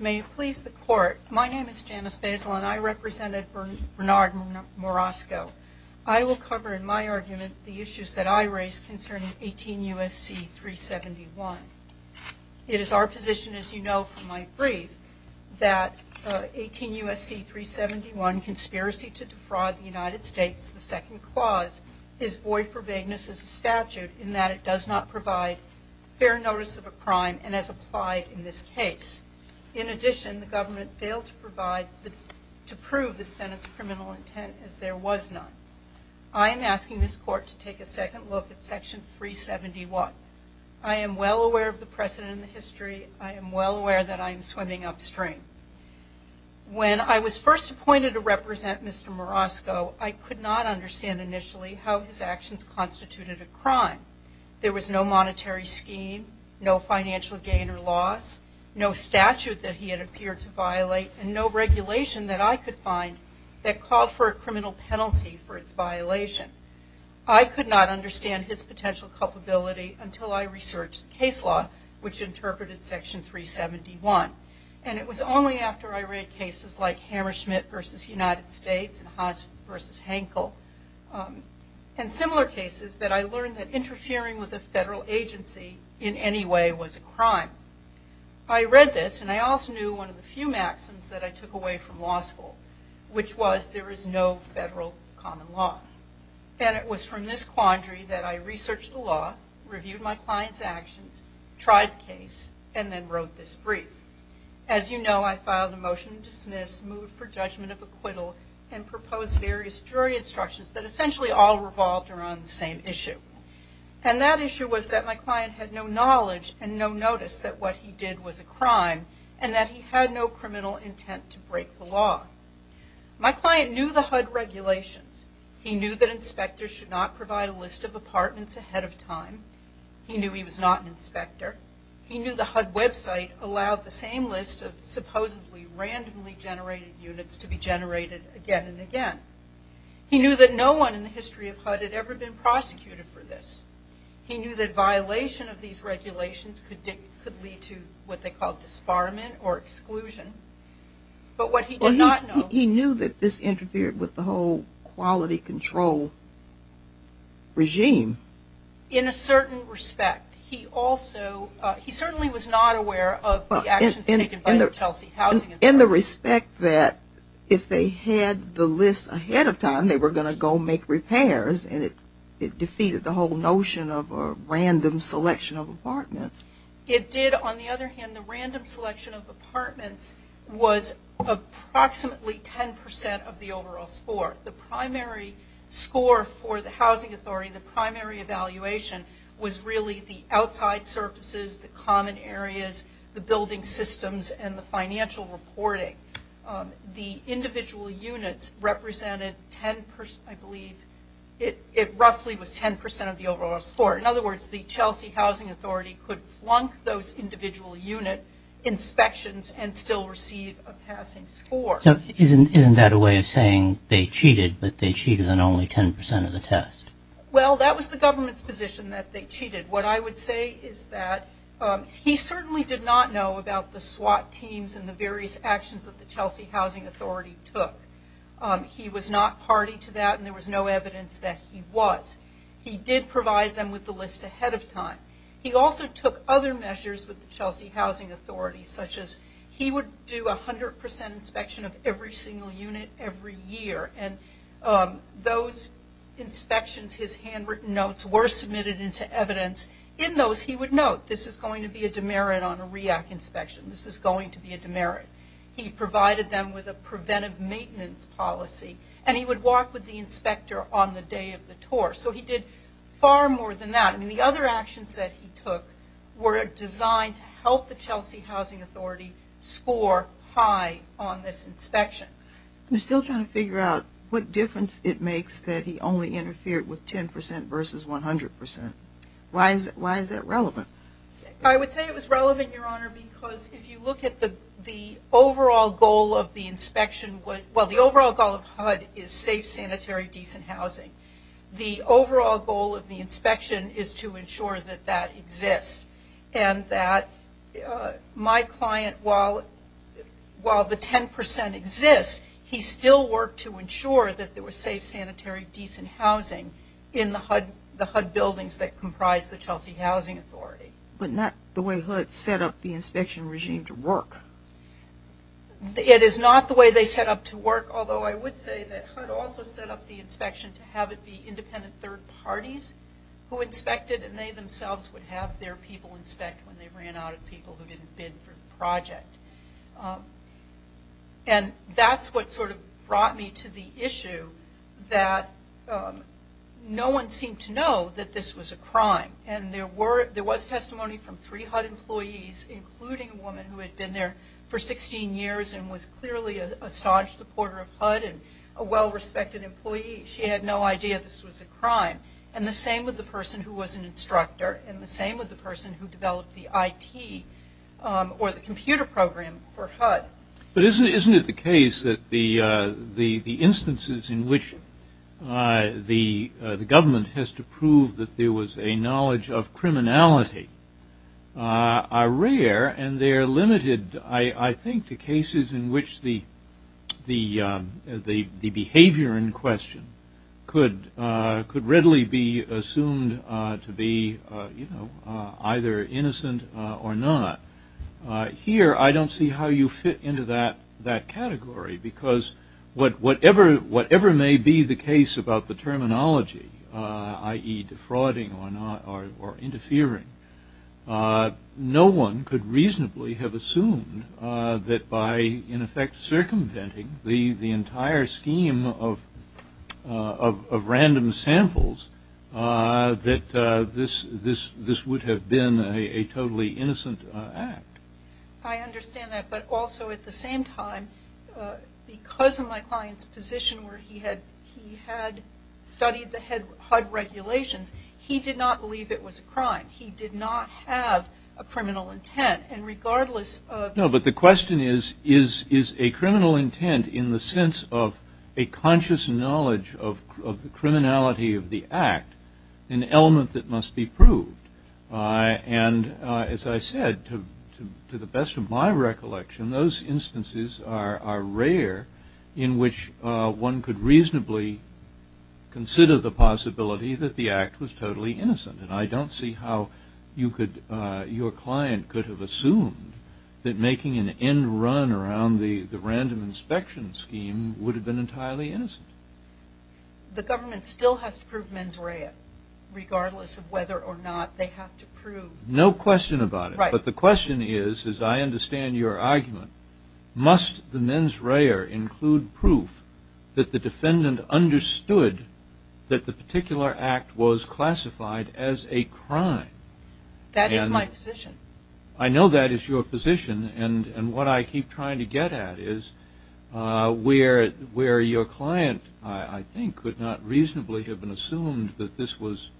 May it please the court, my name is Janice Basil and I represented Bernard Morosco. I will cover in my argument the issues that I raised concerning 18 U.S.C. 371. It is our position as you know from my brief that 18 U.S.C. 371, conspiracy to defraud the United States, the second clause, is void for vagueness as a statute in that it does not provide fair notice of a crime and as applied in this case. In addition, the government failed to provide to prove the defendant's criminal intent as there was none. I am asking this court to take a second look at Section 371. I am well aware of the precedent in the history. I am well aware that I am swimming upstream. When I was first appointed to represent Mr. Morosco, I could not understand initially how his actions constituted a crime. There was no monetary scheme, no violation that I could find that called for a criminal penalty for its violation. I could not understand his potential culpability until I researched case law which interpreted Section 371. And it was only after I read cases like Hammersmith v. United States and Haas v. Hankel and similar cases that I learned that interfering with a federal agency in any way was a law school, which was there is no federal common law. And it was from this quandary that I researched the law, reviewed my client's actions, tried the case, and then wrote this brief. As you know, I filed a motion to dismiss, moved for judgment of acquittal, and proposed various jury instructions that essentially all revolved around the same issue. And that issue was that my client had no knowledge and no notice that what he did was a crime and that he had no criminal intent to break the law. My client knew the HUD regulations. He knew that inspectors should not provide a list of apartments ahead of time. He knew he was not an inspector. He knew the HUD website allowed the same list of supposedly randomly generated units to be generated again and again. He knew that no one in the history of HUD had ever been prosecuted for this. He knew that this interfered with the whole quality control regime. In a certain respect. He also, he certainly was not aware of the actions taken by the Chelsea Housing Inspectorate. In the respect that if they had the list ahead of time, they were going to go make repairs and it defeated the whole notion of a random selection of apartments. It did on the other hand, the random selection of apartments was approximately 10% of the overall score. The primary score for the housing authority, the primary evaluation was really the outside surfaces, the common areas, the building systems, and the financial reporting. The individual units represented 10%, I believe, it roughly was 10% of the overall score. In other words, the individual unit inspections and still receive a passing score. Isn't that a way of saying they cheated, but they cheated on only 10% of the test? Well, that was the government's position that they cheated. What I would say is that he certainly did not know about the SWAT teams and the various actions that the Chelsea Housing Authority took. He was not party to that and there was no evidence that he was. He did provide them with the list ahead of time. He also took other measures with the Chelsea Housing Authority, such as he would do 100% inspection of every single unit every year. Those inspections, his handwritten notes were submitted into evidence. In those he would note, this is going to be a demerit on a REAC inspection. This is going to be a demerit. He provided them with a preventive maintenance policy and he would walk with the inspector on the day of the tour. He did far more than that. I mean, the other actions that he took were designed to help the Chelsea Housing Authority score high on this inspection. I'm still trying to figure out what difference it makes that he only interfered with 10% versus 100%. Why is that relevant? I would say it was relevant, Your Honor, because if you look at the overall goal of the inspection, well, the overall goal of HUD is safe, sanitary, decent housing. The overall goal of the inspection is to ensure that that exists and that my client, while the 10% exists, he still worked to ensure that there was safe, sanitary, decent housing in the HUD buildings that comprise the Chelsea Housing Authority. But not the way HUD set up the inspection regime to work. It is not the way they set up to work, although I would say that HUD also set up the inspectors who inspected and they themselves would have their people inspect when they ran out of people who didn't bid for the project. And that's what sort of brought me to the issue that no one seemed to know that this was a crime. And there was testimony from three HUD employees, including a woman who had been there for 16 years and was clearly a staunch supporter of HUD and a well-respected employee. She had no idea this was a crime. And the same with the person who was an instructor and the same with the person who developed the IT or the computer program for HUD. But isn't it the case that the instances in which the government has to prove that there was a knowledge of criminality are rare and they are limited, I think, to cases in which the behavior in which it could readily be assumed to be either innocent or not. Here, I don't see how you fit into that category, because whatever may be the case about the terminology, i.e. defrauding or interfering, no one could reasonably have assumed that by, in the entire scheme of random samples, that this would have been a totally innocent act. I understand that, but also at the same time, because of my client's position where he had studied the HUD regulations, he did not believe it was a crime. He did not have a criminal intent. And regardless of... No, but the question is, is a criminal intent in the sense of a conscious knowledge of the criminality of the act an element that must be proved? And as I said, to the best of my recollection, those instances are rare in which one could reasonably consider the possibility that the act was totally innocent. And I don't see how your client could have assumed that making an end run around the random inspection scheme would have been entirely innocent. The government still has to prove mens rea, regardless of whether or not they have to prove... No question about it. Right. But the question is, as I understand your argument, must the mens rea include proof that the defendant understood that the particular act was classified as a crime? That is my position. I know that is your position, and what I keep trying to get at is where your client, I think, could not reasonably have been assumed that this was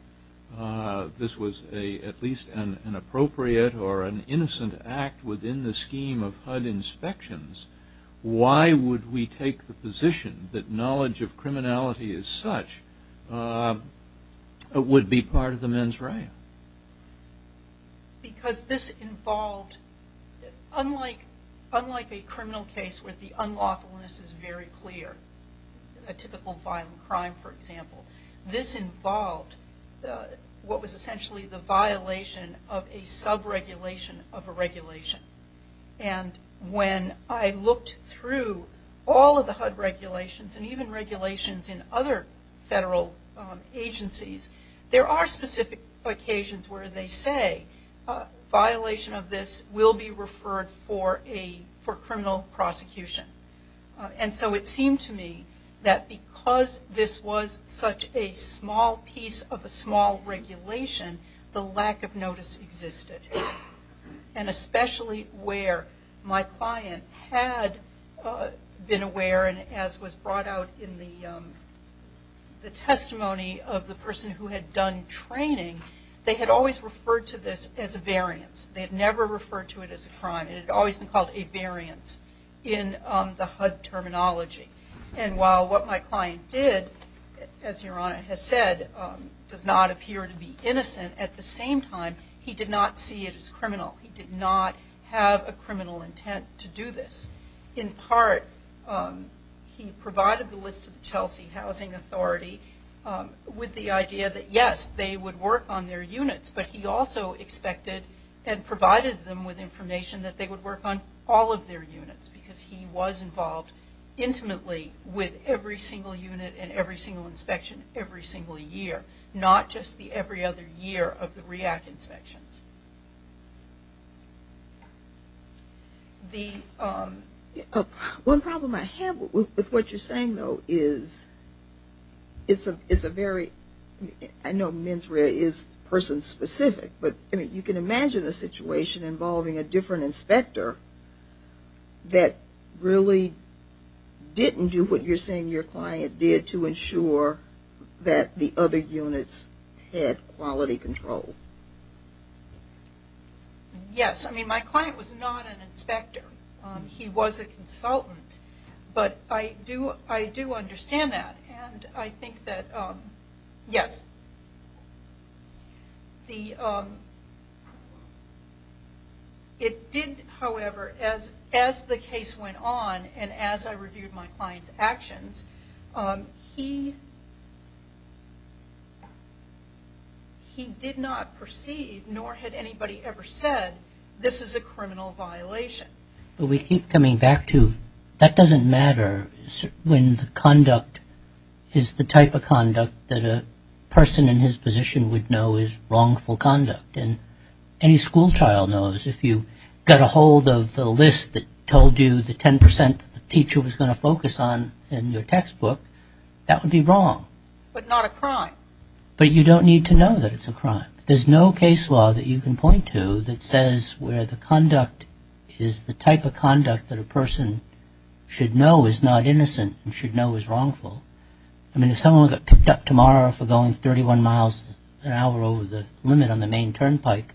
at least an appropriate or an innocent act within the scheme of HUD inspections. Why would we take the position that knowledge of criminality as such would be part of the mens rea? Because this involved... Unlike a criminal case where the unlawfulness is very clear, a typical violent crime, for example, this involved what was essentially the violation of a sub-regulation of a regulation. And when I looked through all of the HUD regulations and even regulations in other federal agencies, there are specific occasions where they say violation of this will be referred for criminal prosecution. And so it seemed to me that because this was such a small piece of a small regulation, the lack of notice existed. And especially where my client had been aware, and as was brought out in the testimony of the person who had done training, they had always referred to this as a variance. They had never referred to it as a crime. It had always been called a variance in the HUD terminology. And while what my client did, as Your Honor has said, does not appear to be innocent, at the same time, he did not see it as criminal. He did not have a criminal intent to do this. In part, he provided the list of the Chelsea Housing Authority with the idea that yes, they would work on their units, but he also expected and provided them with information that they would work on all of their units because he was involved intimately with every single unit and every single inspection every single year, not just the every other year of the REACT inspections. One problem I have with what you're saying, though, is it's a very, I know MNSREA is person an inspector that really didn't do what you're saying your client did to ensure that the other units had quality control. Yes. I mean, my client was not an inspector. He was a consultant, but I do understand that and I think that, yes. It did, however, as the case went on and as I reviewed my client's actions, he did not perceive, nor had anybody ever said, this is a criminal violation. But we keep coming back to that doesn't matter when the conduct is the type of conduct that a person in his position would know is wrongful conduct and any school child knows if you got a hold of the list that told you the 10 percent the teacher was going to focus on in your textbook, that would be wrong. But not a crime. But you don't need to know that it's a crime. There's no case law that you can point to that says where the conduct is the type of conduct that a person should know is not innocent and should know is wrongful. I mean, if someone got picked up tomorrow for going 31 miles an hour over the limit on the main turnpike,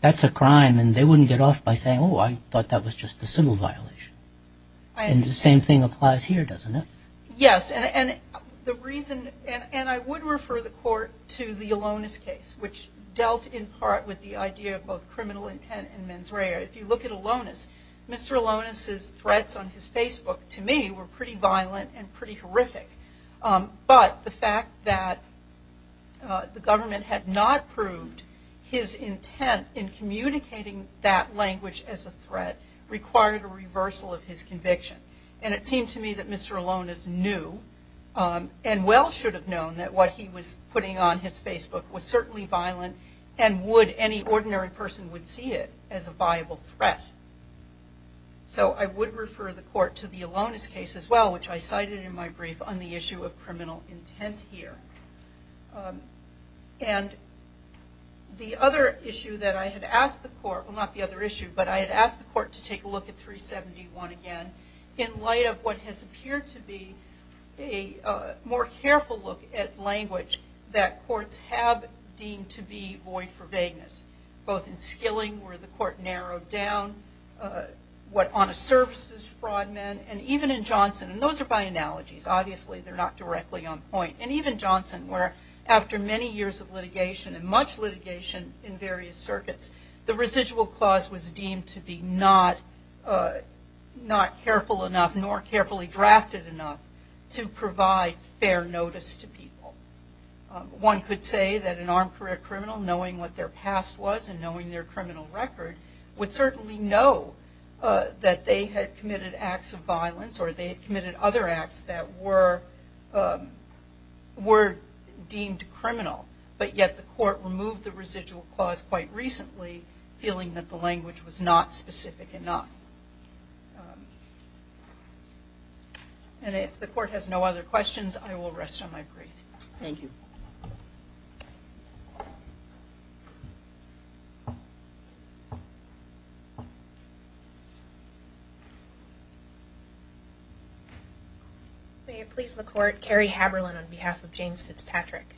that's a crime and they wouldn't get off by saying, oh, I thought that was just a civil violation. And the same thing applies here, doesn't it? Yes, and the reason, and I would refer the court to the Alonis case, which dealt in part with the idea of both criminal intent and mens rea. If you look at Alonis, Mr. Alonis' threats on his Facebook, to me, were pretty violent and pretty horrific. But the fact that the government had not proved his intent in communicating that language as a threat required a reversal of his conviction. And it seemed to me that Mr. Alonis knew and well should have known that what he was putting on his Facebook was certainly violent and would, any ordinary person would see it as a viable threat. So I would refer the court to the Alonis case as well, which I cited in my brief on the issue of criminal intent here. And the other issue that I had asked the court, well not the other issue, but I had asked the court to take a look at 371 again in light of what has appeared to be a more careful look at language that courts have deemed to be void for vagueness. Both in Skilling, where the court narrowed down, what honest services fraud men, and even in Johnson, and those are by analogies, obviously they're not directly on point. And even Johnson, where after many years of litigation and much litigation in various circuits, the residual clause was deemed to be not careful enough, nor carefully drafted enough, to provide fair notice to people. One could say that an armed career criminal, knowing what their past was and knowing their criminal record, would certainly know that they had committed acts of violence or they had committed other acts that were deemed criminal. But yet the court removed the residual clause quite recently, feeling that the language was not specific enough. And if the court has no other questions, I will rest on my break. Thank you. May it please the court, Carrie Haberlin on behalf of James Fitzpatrick.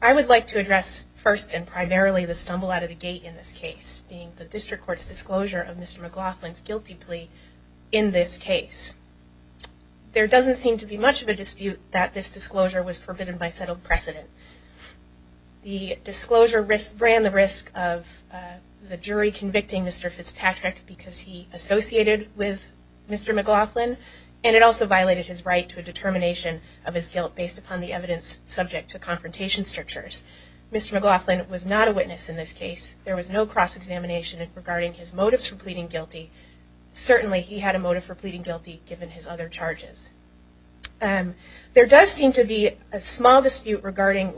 I would like to address first and primarily the stumble out of the gate in this case, being the district court's disclosure of Mr. McLaughlin's guilty plea in this case. There doesn't seem to be much of a dispute that this disclosure was forbidden by settled precedent. The disclosure ran the risk of the jury convicting Mr. Fitzpatrick because he associated with Mr. McLaughlin, and it also violated his right to a determination of his guilt based upon the evidence subject to confrontation strictures. Mr. McLaughlin was not a witness in this case. There was no cross-examination regarding his motives for pleading guilty. Certainly he had a motive for pleading guilty given his other charges. There does seem to be a small dispute regarding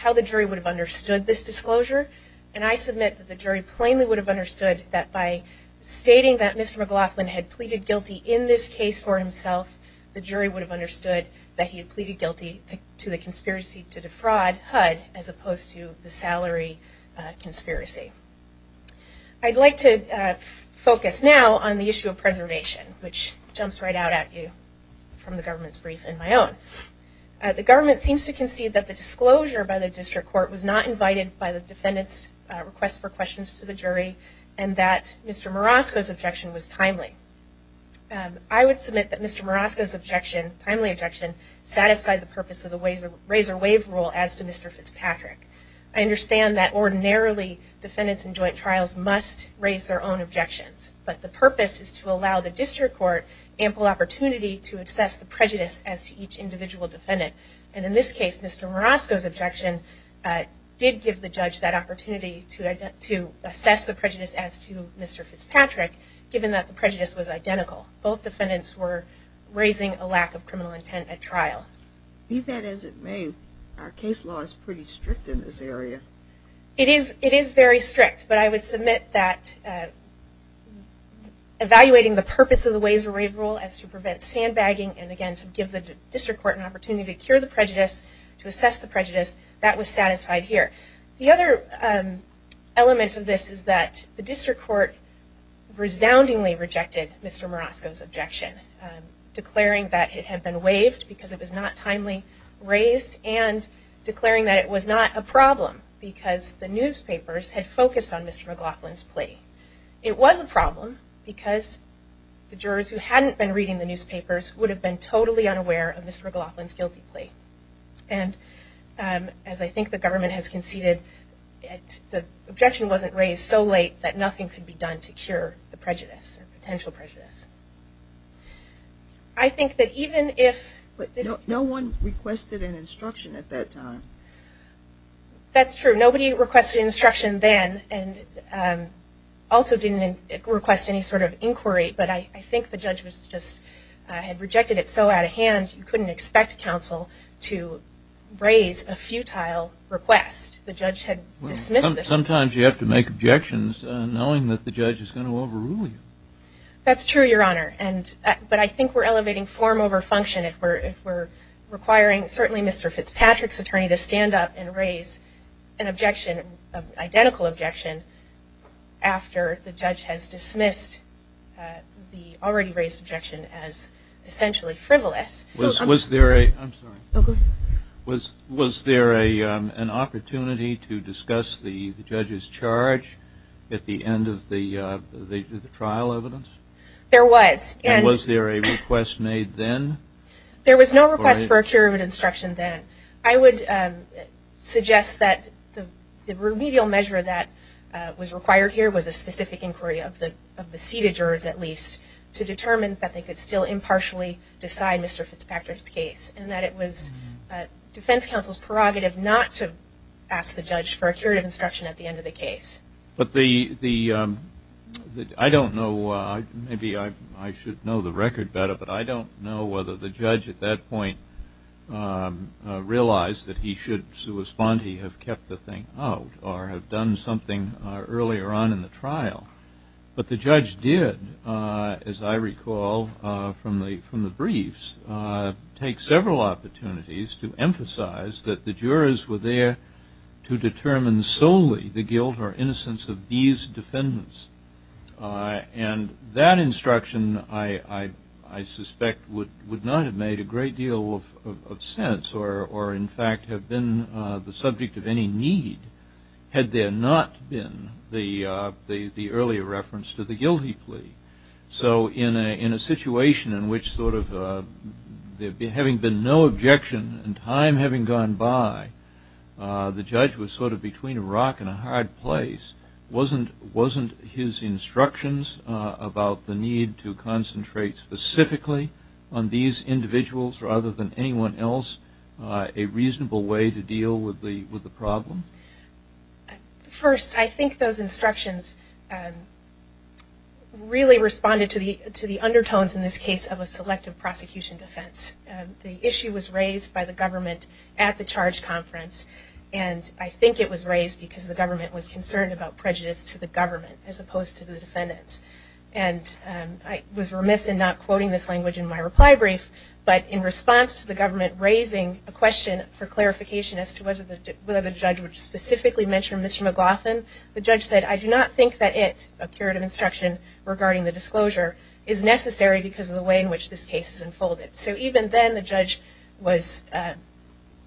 how the jury would have understood this disclosure. And I submit that the jury plainly would have understood that by stating that Mr. McLaughlin had pleaded guilty in this case for himself, the jury would have understood that he had pleaded guilty to the conspiracy to defraud HUD as opposed to the salary conspiracy. I'd like to focus now on the issue of preservation, which jumps right out at you from the government's brief and my own. The government seems to concede that the disclosure by the district court was not invited by the defendant's request for questions to the jury, and that Mr. Marosco's objection was timely. I would submit that Mr. Marosco's objection, timely objection, satisfied the purpose of the razor wave rule as to Mr. Fitzpatrick. I understand that ordinarily defendants in joint trials must raise their own objections, but the purpose is to allow the district court ample opportunity to assess the prejudice as to each individual defendant. And in this case, Mr. Marosco's objection did give the judge that opportunity to assess the prejudice as to Mr. Fitzpatrick, given that the prejudice was identical. Both defendants were raising a lack of criminal intent at trial. Be that as it may, our case law is pretty strict in this area. It is very strict, but I would submit that evaluating the purpose of the razor wave rule as to prevent sandbagging and, again, to give the district court an opportunity to cure the prejudice, to assess the prejudice, that was satisfied here. The other element of this is that the district court resoundingly rejected Mr. Marosco's objection, declaring that it had been waived because it was not timely raised and declaring that it was not a problem because the newspapers had focused on Mr. McLaughlin's plea. It was a problem because the jurors who hadn't been reading the newspapers would have been totally unaware of Mr. McLaughlin's guilty plea. And as I think the government has conceded, the objection wasn't raised so late that nothing could be done to cure the prejudice, the potential prejudice. I think that even if this... But no one requested an instruction at that time. That's true. Nobody requested instruction then and also didn't request any sort of inquiry, but I think the judge was just, had rejected it so out of hand you couldn't expect counsel to raise a futile request. The judge had dismissed it. Sometimes you have to make objections knowing that the judge is going to overrule you. That's true, Your Honor, but I think we're elevating form over function if we're requiring certainly Mr. Fitzpatrick's attorney to stand up and raise an objection, an identical objection, after the judge has dismissed the already raised objection as essentially frivolous. Was there a... I'm sorry. Oh, go ahead. Was there an opportunity to discuss the judge's charge at the end of the trial evidence? There was. And was there a request made then? There was no request for a period of instruction then. I would suggest that the remedial measure that was required here was a specific inquiry of the seated jurors at least to determine that they could still partially decide Mr. Fitzpatrick's case and that it was defense counsel's prerogative not to ask the judge for a period of instruction at the end of the case. But the... I don't know. Maybe I should know the record better, but I don't know whether the judge at that point realized that he should have kept the thing out or have done something earlier on in the trial. But the judge did, as I recall from the briefs, take several opportunities to emphasize that the jurors were there to determine solely the guilt or innocence of these defendants. And that instruction, I suspect, would not have made a great deal of sense or, in fact, have been the subject of any need had there not been the earlier reference to the guilty plea. So in a situation in which sort of having been no objection in time having gone by, the judge was sort of between a rock and a hard place. Wasn't his instructions about the need to concentrate specifically on these individuals rather than anyone else a reasonable way to deal with the problem? First, I think those instructions really responded to the undertones in this case of a selective prosecution defense. The issue was raised by the government at the charge conference, and I think it was raised because the government was concerned about prejudice to the government as opposed to the defendants. And I was remiss in not quoting this language in my reply brief, but in response to the government raising a question for clarification as to whether the judge would specifically mention Mr. McLaughlin, the judge said, I do not think that it, a curative instruction regarding the disclosure, is necessary because of the way in which this case is unfolded. So even then the judge was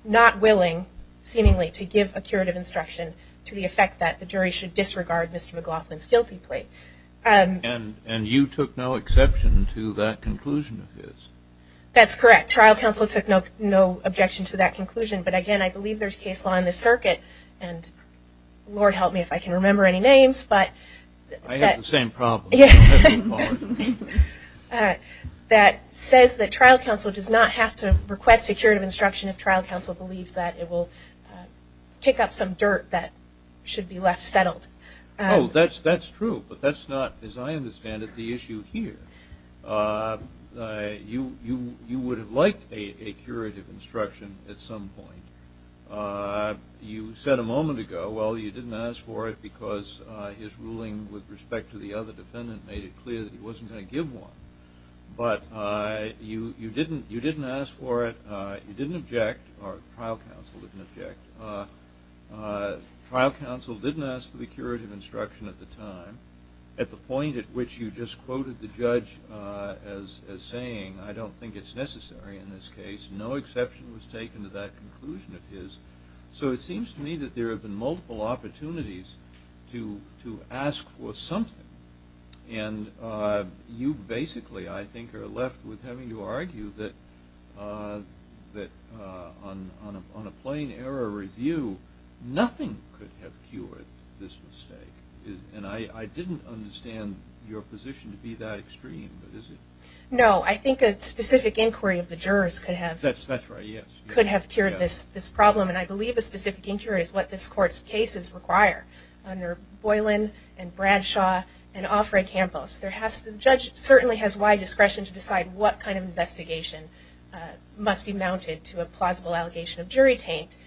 not willing, seemingly, to give a curative instruction to the effect that the jury should disregard Mr. McLaughlin's guilty plea. And you took no exception to that conclusion of his? That's correct. Trial counsel took no objection to that conclusion. But, again, I believe there's case law in this circuit, and Lord help me if I can remember any names, but. I have the same problem. That says that trial counsel does not have to request a curative instruction if trial counsel believes that it will kick up some dirt that should be left settled. Oh, that's true. But that's not, as I understand it, the issue here. You would have liked a curative instruction at some point. You said a moment ago, well, you didn't ask for it because his ruling with respect to the other defendant made it clear that he wasn't going to give one. But you didn't ask for it. You didn't object, or trial counsel didn't object. Trial counsel didn't ask for the curative instruction at the time, at the point at which you just quoted the judge as saying, I don't think it's necessary in this case. No exception was taken to that conclusion of his. So it seems to me that there have been multiple opportunities to ask for something. And you basically, I think, are left with having to argue that on a plain error review, nothing could have cured this mistake. And I didn't understand your position to be that extreme. No, I think a specific inquiry of the jurors could have cured this problem. And I believe a specific inquiry is what this Court's cases require. Under Boylan and Bradshaw and Offred-Campos, the judge certainly has wide discretion to decide what kind of investigation must be mounted to a plausible allegation of jury taint.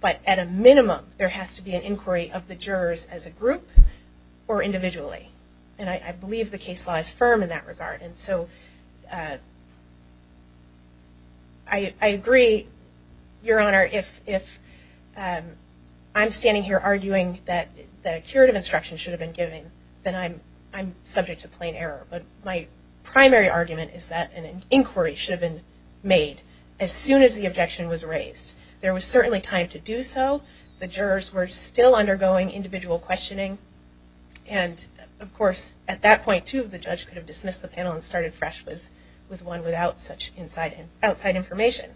But at a minimum, there has to be an inquiry of the jurors as a group or individually. And I believe the case law is firm in that regard. And so I agree, Your Honor, if I'm standing here arguing that a curative instruction should have been given, then I'm subject to plain error. But my primary argument is that an inquiry should have been made as soon as the objection was raised. There was certainly time to do so. The jurors were still undergoing individual questioning. And, of course, at that point, too, the judge could have dismissed the panel and started fresh with one without such outside information.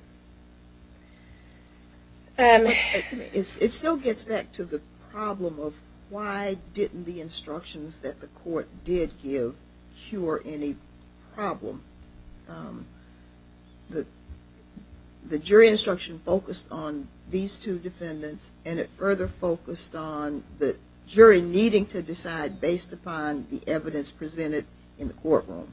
It still gets back to the problem of why didn't the instructions that the Court did give cure any problem. The jury instruction focused on these two defendants, and it further focused on the jury needing to decide based upon the evidence presented in the courtroom.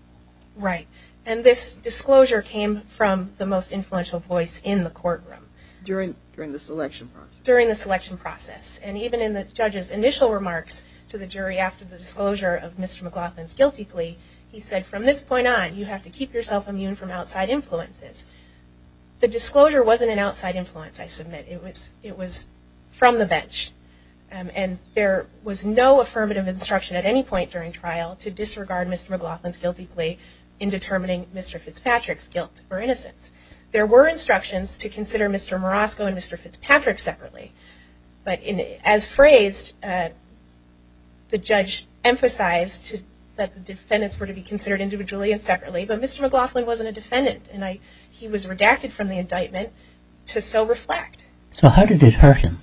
Right. And this disclosure came from the most influential voice in the courtroom. During the selection process. During the selection process. And even in the judge's initial remarks to the jury after the disclosure of Mr. McLaughlin's guilty plea, he said, from this point on, you have to keep yourself immune from outside influences. The disclosure wasn't an outside influence, I submit. It was from the bench. And there was no affirmative instruction at any point during trial to disregard Mr. McLaughlin's guilty plea in determining Mr. Fitzpatrick's guilt or innocence. There were instructions to consider Mr. Morosco and Mr. Fitzpatrick separately. But as phrased, the judge emphasized that the defendants were to be considered individually and separately. But Mr. McLaughlin wasn't a defendant. And he was redacted from the indictment to so reflect. So how did it hurt him?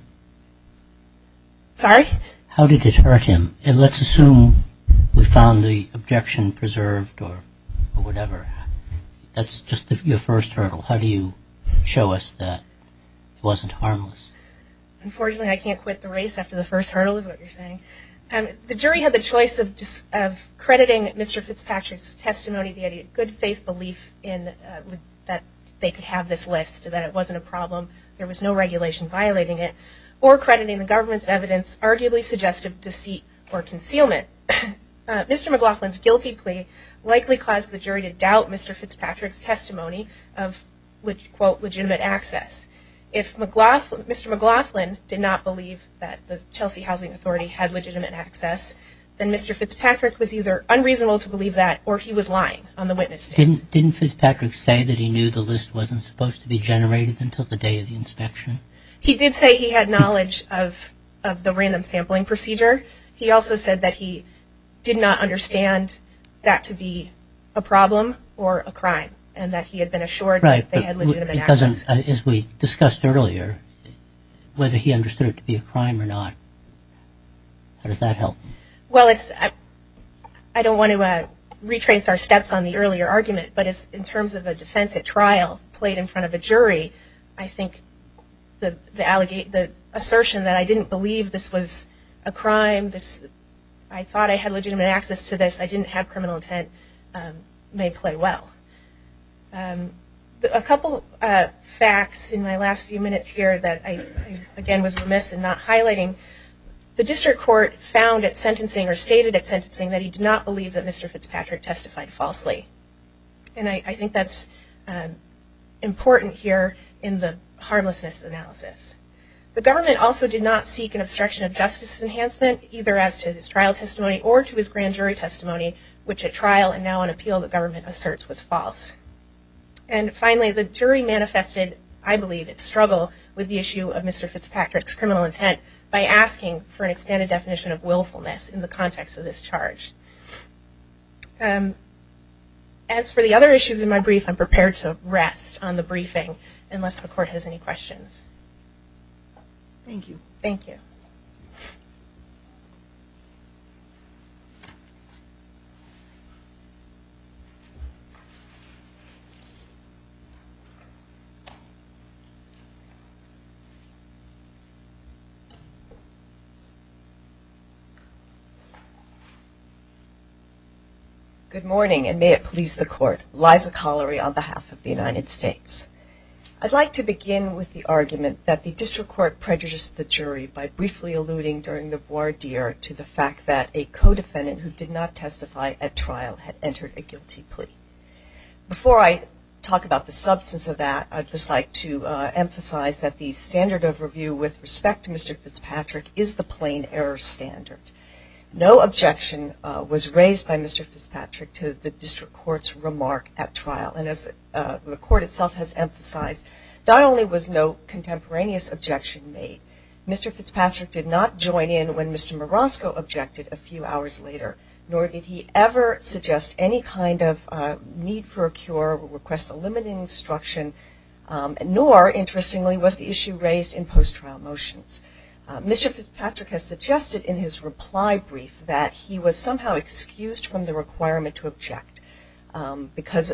Sorry? How did it hurt him? Let's assume we found the objection preserved or whatever. That's just your first hurdle. How do you show us that it wasn't harmless? Unfortunately, I can't quit the race after the first hurdle is what you're saying. The jury had the choice of crediting Mr. Fitzpatrick's testimony, the good faith belief that they could have this list, that it wasn't a problem, there was no regulation violating it, or crediting the government's evidence arguably suggestive of deceit or concealment. Mr. McLaughlin's guilty plea likely caused the jury to doubt Mr. Fitzpatrick's testimony of legitimate access. If Mr. McLaughlin did not believe that the Chelsea Housing Authority had legitimate access, then Mr. Fitzpatrick was either unreasonable to believe that or he was lying on the witness stand. Didn't Fitzpatrick say that he knew the list wasn't supposed to be generated until the day of the inspection? He did say he had knowledge of the random sampling procedure. He also said that he did not understand that to be a problem or a crime and that he had been assured that they had legitimate access. As we discussed earlier, whether he understood it to be a crime or not, how does that help? Well, I don't want to retrace our steps on the earlier argument, but in terms of a defense at trial played in front of a jury, I think the assertion that I didn't believe this was a crime, I thought I had legitimate access to this, I didn't have criminal intent, may play well. A couple of facts in my last few minutes here that I again was remiss in not highlighting. The district court found at sentencing or stated at sentencing that he did not believe that Mr. Fitzpatrick testified falsely. And I think that's important here in the harmlessness analysis. The government also did not seek an obstruction of justice enhancement, either as to his trial testimony or to his grand jury testimony, which at trial and now on appeal the government asserts was false. And finally, the jury manifested, I believe, its struggle with the issue of Mr. Fitzpatrick's criminal intent by asking for an expanded definition of willfulness in the context of this charge. As for the other issues in my brief, I'm prepared to rest on the briefing, unless the court has any questions. Thank you. Thank you. Good morning and may it please the court. Liza Collery on behalf of the United States. I'd like to begin with the argument that the district court prejudiced the jury by briefly alluding during the voir dire to the fact that a co-defendant who did not testify at trial had entered a guilty plea. Before I talk about the substance of that, I'd just like to emphasize that the standard of review with respect to Mr. Fitzpatrick is the plain error standard. No objection was raised by Mr. Fitzpatrick to the district court's remark at trial. And as the court itself has emphasized, not only was no contemporaneous objection made, Mr. Fitzpatrick did not join in when Mr. Marosco objected a few hours later, nor did he ever suggest any kind of need for a cure or request a limiting instruction, nor, interestingly, was the issue raised in post-trial motions. Mr. Fitzpatrick has suggested in his reply brief that he was somehow excused from the requirement to object because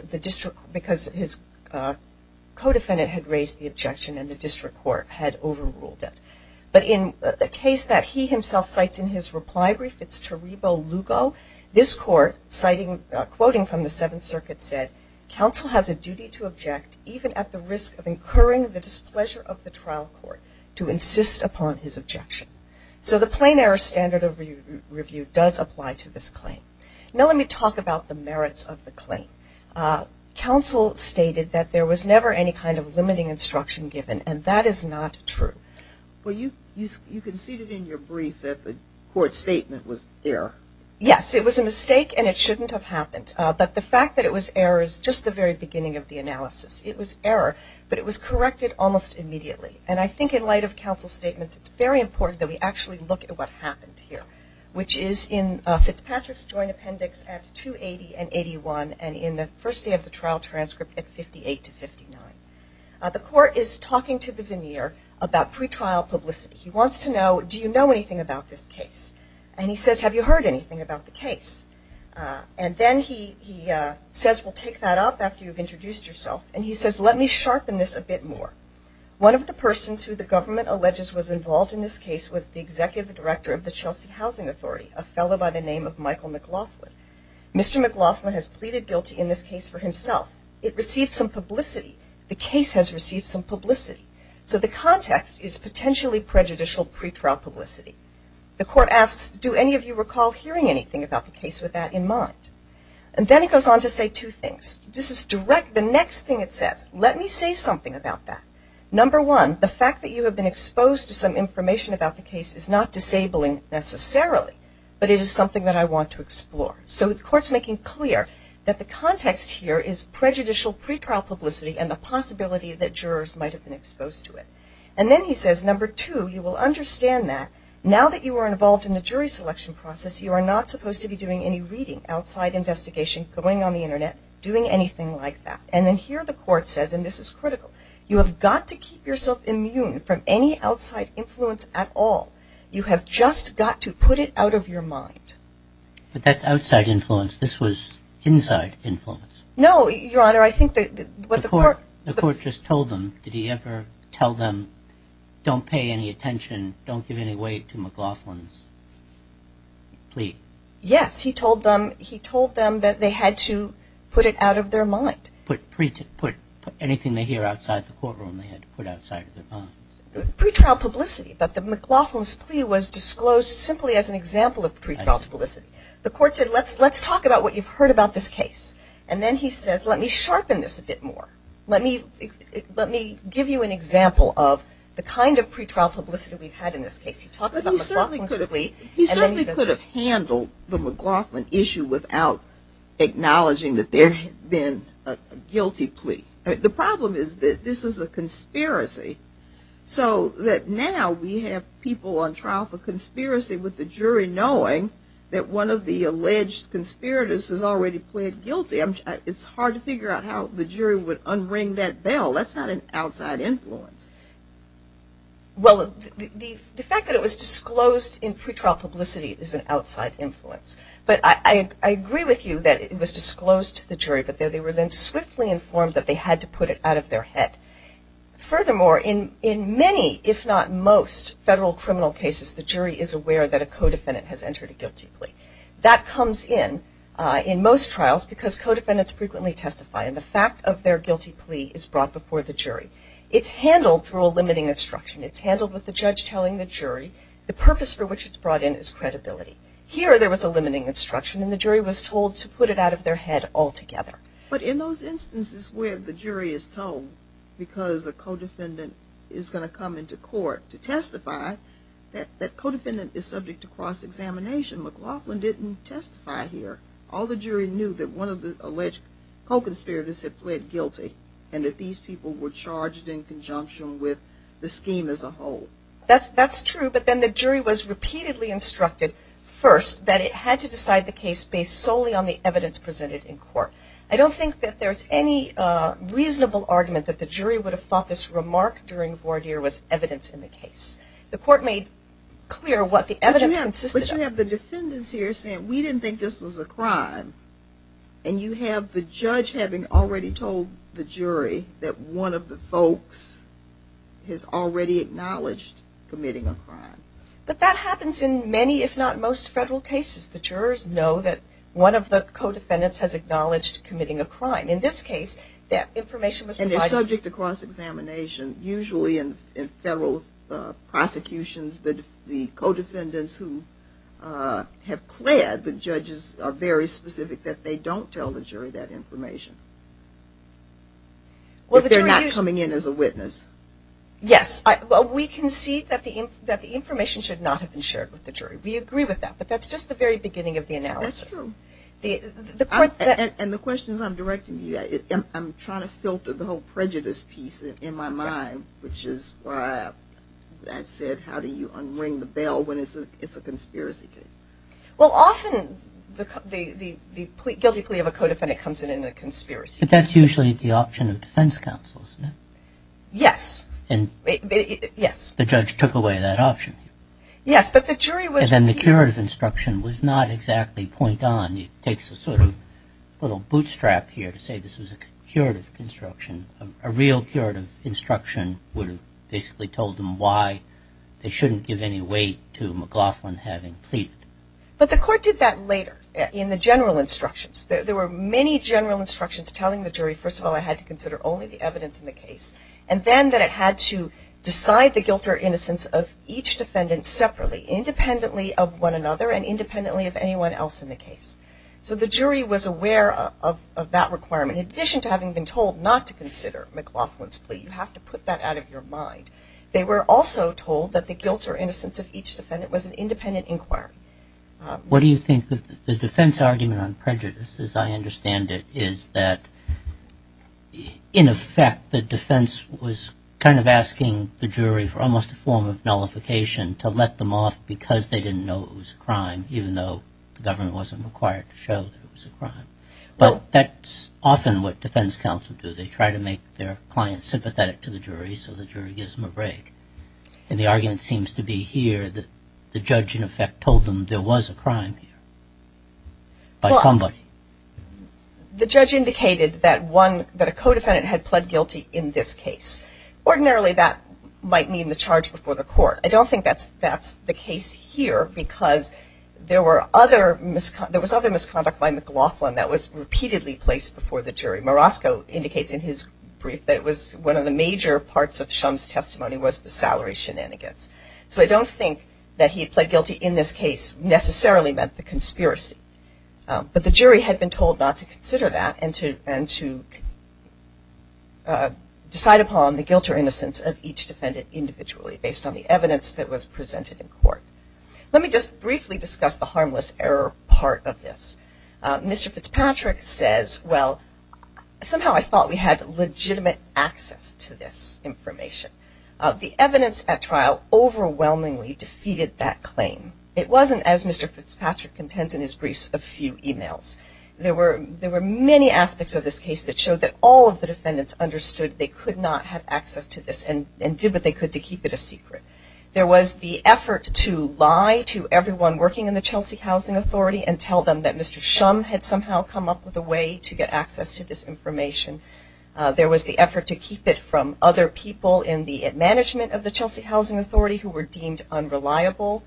his co-defendant had raised the objection and the district court had overruled it. But in a case that he himself cites in his reply brief, it's Torebo Lugo, this court quoting from the Seventh Circuit said, counsel has a duty to object even at the risk of incurring the displeasure of the trial court to insist upon his objection. So the plain error standard of review does apply to this claim. Now let me talk about the merits of the claim. Counsel stated that there was never any kind of limiting instruction given, and that is not true. Well, you conceded in your brief that the court's statement was error. Yes, it was a mistake and it shouldn't have happened. But the fact that it was error is just the very beginning of the analysis. It was error, but it was corrected almost immediately. And I think in light of counsel's statements, it's very important that we actually look at what happened here, which is in Fitzpatrick's joint appendix at 280 and 81 and in the first day of the trial transcript at 58 to 59. The court is talking to the veneer about pretrial publicity. He wants to know, do you know anything about this case? And he says, have you heard anything about the case? And then he says, well, take that up after you've introduced yourself. And he says, let me sharpen this a bit more. One of the persons who the government alleges was involved in this case was the executive director of the Chelsea Housing Authority, a fellow by the name of Michael McLaughlin. Mr. McLaughlin has pleaded guilty in this case for himself. It received some publicity. The case has received some publicity. So the context is potentially prejudicial pretrial publicity. The court asks, do any of you recall hearing anything about the case with that in mind? And then he goes on to say two things. The next thing it says, let me say something about that. Number one, the fact that you have been exposed to some information about the case is not disabling necessarily, but it is something that I want to explore. So the court's making clear that the context here is prejudicial pretrial publicity and the possibility that jurors might have been exposed to it. And then he says, number two, you will understand that now that you are involved in the jury selection process, you are not supposed to be doing any reading outside investigation, going on the Internet, doing anything like that. And then here the court says, and this is critical, you have got to keep yourself immune from any outside influence at all. You have just got to put it out of your mind. But that's outside influence. This was inside influence. No, Your Honor, I think that what the court... The court just told him, did he ever tell them, don't pay any attention, don't give any weight to McLaughlin's plea? Yes. He told them that they had to put it out of their mind. Put anything they hear outside the courtroom, they had to put outside of their minds. Pretrial publicity. But the McLaughlin's plea was disclosed simply as an example of pretrial publicity. The court said, let's talk about what you've heard about this case. And then he says, let me sharpen this a bit more. Let me give you an example of the kind of pretrial publicity we've had in this case. He talks about McLaughlin's plea. He certainly could have handled the McLaughlin issue without acknowledging that there had been a guilty plea. The problem is that this is a conspiracy. So that now we have people on trial for conspiracy with the jury knowing that one of the alleged conspirators has already pled guilty. It's hard to figure out how the jury would unring that bell. That's not an outside influence. Well, the fact that it was disclosed in pretrial publicity is an outside influence. But I agree with you that it was disclosed to the jury. But they were then swiftly informed that they had to put it out of their head. Furthermore, in many, if not most, federal criminal cases, the jury is aware that a co-defendant has entered a guilty plea. That comes in in most trials because co-defendants frequently testify. And the fact of their guilty plea is brought before the jury. It's handled through a limiting instruction. It's handled with the judge telling the jury the purpose for which it's brought in is credibility. Here there was a limiting instruction, and the jury was told to put it out of their head altogether. But in those instances where the jury is told because a co-defendant is going to come into court to testify, that co-defendant is subject to cross-examination, McLaughlin didn't testify here. All the jury knew that one of the alleged co-conspirators had pled guilty and that these people were charged in conjunction with the scheme as a whole. That's true. But then the jury was repeatedly instructed first that it had to decide the case based solely on the evidence presented in court. I don't think that there's any reasonable argument that the jury would have thought this remark during voir dire was evidence in the case. The court made clear what the evidence consisted of. But you have the defendants here saying we didn't think this was a crime. And you have the judge having already told the jury that one of the folks has already acknowledged committing a crime. But that happens in many, if not most, federal cases. The jurors know that one of the co-defendants has acknowledged committing a crime. In this case, that information was provided. And they're subject to cross-examination. Usually in federal prosecutions, the co-defendants who have pled the judges are very specific that they don't tell the jury that information. If they're not coming in as a witness. Yes. Well, we concede that the information should not have been shared with the jury. We agree with that. But that's just the very beginning of the analysis. That's true. And the questions I'm directing to you, I'm trying to filter the whole prejudice piece in my mind, which is, as I said, how do you unring the bell when it's a conspiracy case? Well, often the guilty plea of a co-defendant comes in in a conspiracy case. But that's usually the option of defense counsel, isn't it? Yes. And the judge took away that option. Yes, but the jury was... And then the curative instruction was not exactly point on. It takes a sort of little bootstrap here to say this was a curative instruction, a real curative instruction would have basically told them why they shouldn't give any weight to McLaughlin having pleaded. But the court did that later in the general instructions. There were many general instructions telling the jury, first of all, I had to consider only the evidence in the case, and then that it had to decide the guilt or innocence of each defendant separately, independently of one another and independently of anyone else in the case. So the jury was aware of that requirement, in addition to having been told not to consider McLaughlin's plea. You have to put that out of your mind. They were also told that the guilt or innocence of each defendant was an independent inquiry. What do you think the defense argument on prejudice, as I understand it, is that in effect the defense was kind of asking the jury for almost a form of nullification to let them off because they didn't know it was a crime, even though the government wasn't required to show that it was a crime. Well, that's often what defense counsel do. They try to make their clients sympathetic to the jury so the jury gives them a break. And the argument seems to be here that the judge, in effect, told them there was a crime here by somebody. The judge indicated that a co-defendant had pled guilty in this case. Ordinarily that might mean the charge before the court. I don't think that's the case here because there was other misconduct by McLaughlin that was repeatedly placed before the jury. Marasco indicates in his brief that one of the major parts of Shum's testimony was the salary shenanigans. So I don't think that he pled guilty in this case necessarily meant the conspiracy. But the jury had been told not to consider that and to decide upon the guilt or innocence of each defendant individually based on the evidence that was presented in court. Let me just briefly discuss the harmless error part of this. Mr. Fitzpatrick says, well, somehow I thought we had legitimate access to this information. The evidence at trial overwhelmingly defeated that claim. It wasn't, as Mr. Fitzpatrick contends in his briefs, a few emails. There were many aspects of this case that showed that all of the defendants understood they could not have access to this and did what they could to keep it a secret. There was the effort to lie to everyone working in the Chelsea Housing Authority and tell them that Mr. Shum had somehow come up with a way to get access to this information. There was the effort to keep it from other people in the management of the Chelsea Housing Authority who were deemed unreliable.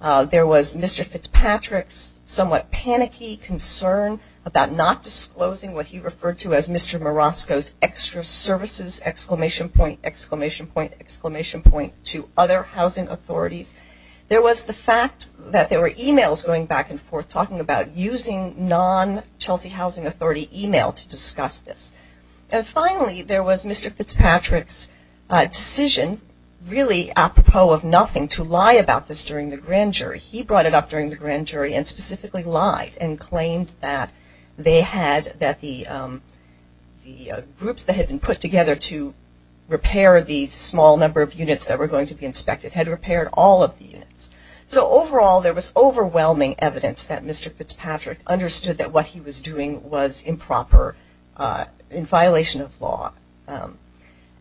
There was Mr. Fitzpatrick's somewhat panicky concern about not disclosing what he referred to as Mr. Marasco's exclamation point, exclamation point, exclamation point to other housing authorities. There was the fact that there were emails going back and forth talking about using non-Chelsea Housing Authority email to discuss this. And finally, there was Mr. Fitzpatrick's decision, really apropos of nothing, to lie about this during the grand jury. He brought it up during the grand jury and specifically lied and claimed that the groups that had been put together to repair the small number of units that were going to be inspected had repaired all of the units. So overall, there was overwhelming evidence that Mr. Fitzpatrick understood that what he was doing was improper, in violation of law.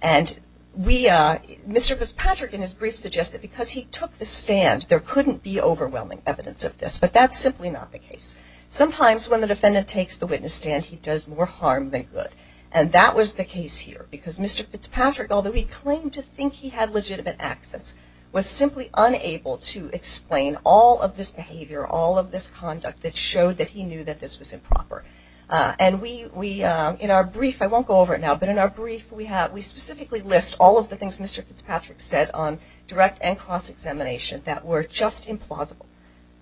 And Mr. Fitzpatrick in his brief suggested because he took the stand, there couldn't be overwhelming evidence of this, but that's simply not the case. Sometimes when the defendant takes the witness stand, he does more harm than good. And that was the case here because Mr. Fitzpatrick, although he claimed to think he had legitimate access, was simply unable to explain all of this behavior, all of this conduct that showed that he knew that this was improper. And we, in our brief, I won't go over it now, but in our brief we specifically list all of the things Mr. Fitzpatrick said on direct and cross-examination that were just implausible.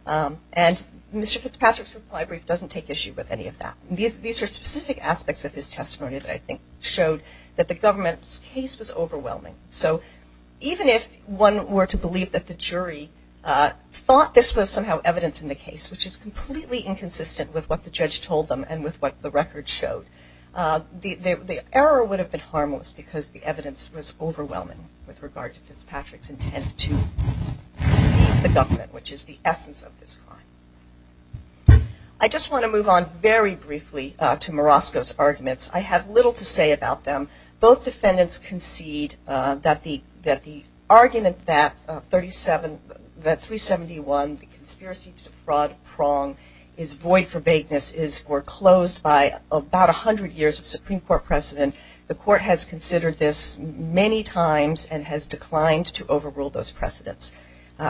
And Mr. Fitzpatrick's reply brief doesn't take issue with any of that. These are specific aspects of his testimony that I think showed that the government's case was overwhelming. So even if one were to believe that the jury thought this was somehow evidence in the case, which is completely inconsistent with what the judge told them and with what the record showed, the error would have been harmless because the evidence was overwhelming with regard to Fitzpatrick's intent to deceive the government, which is the essence of this crime. I just want to move on very briefly to Marosco's arguments. I have little to say about them. Both defendants concede that the argument that 371, the conspiracy to defraud prong, is void for vagueness, is foreclosed by about 100 years of Supreme Court precedent. The court has considered this many times and has declined to overrule those precedents.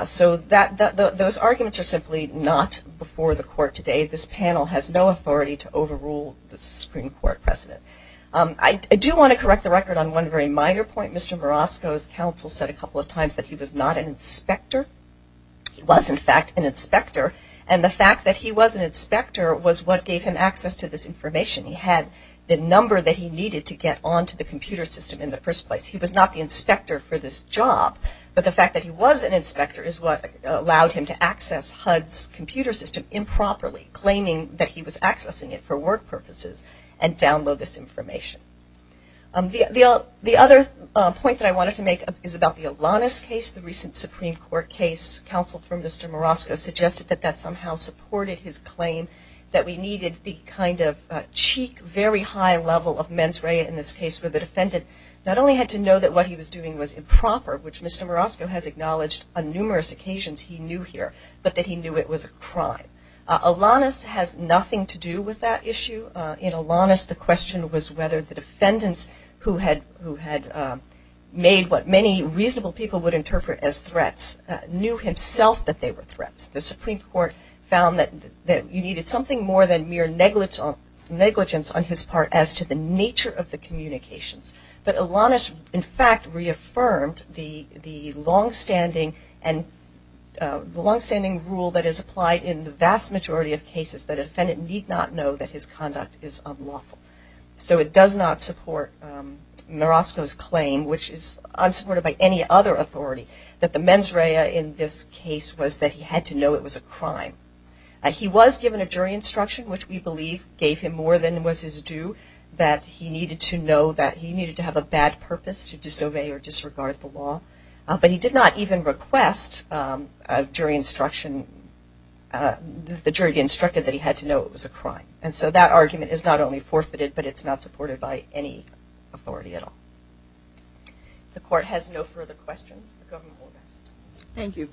So those arguments are simply not before the court today. This panel has no authority to overrule the Supreme Court precedent. I do want to correct the record on one very minor point. Mr. Marosco's counsel said a couple of times that he was not an inspector. He was, in fact, an inspector. And the fact that he was an inspector was what gave him access to this information. He had the number that he needed to get onto the computer system in the first place. He was not the inspector for this job, but the fact that he was an inspector is what allowed him to access HUD's computer system improperly, claiming that he was accessing it for work purposes and download this information. The other point that I wanted to make is about the Alanis case, the recent Supreme Court case. Counsel for Mr. Marosco suggested that that somehow supported his claim that we needed the kind of cheek, very high level of mens rea in this case where the defendant not only had to know that what he was doing was improper, which Mr. Marosco has acknowledged on numerous occasions he knew here, but that he knew it was a crime. Alanis has nothing to do with that issue. In Alanis, the question was whether the defendants, who had made what many reasonable people would interpret as threats, knew himself that they were threats. The Supreme Court found that you needed something more than mere negligence on his part as to the nature of the communications. But Alanis, in fact, reaffirmed the longstanding rule that is applied in the vast majority of cases, that a defendant need not know that his conduct is unlawful. So it does not support Marosco's claim, which is unsupported by any other authority, that the mens rea in this case was that he had to know it was a crime. He was given a jury instruction, which we believe gave him more than was his due, that he needed to know that he needed to have a bad purpose to disobey or disregard the law. But he did not even request a jury instruction, the jury instructed that he had to know it was a crime. And so that argument is not only forfeited, but it's not supported by any authority at all. If the court has no further questions, the government will rest. Thank you.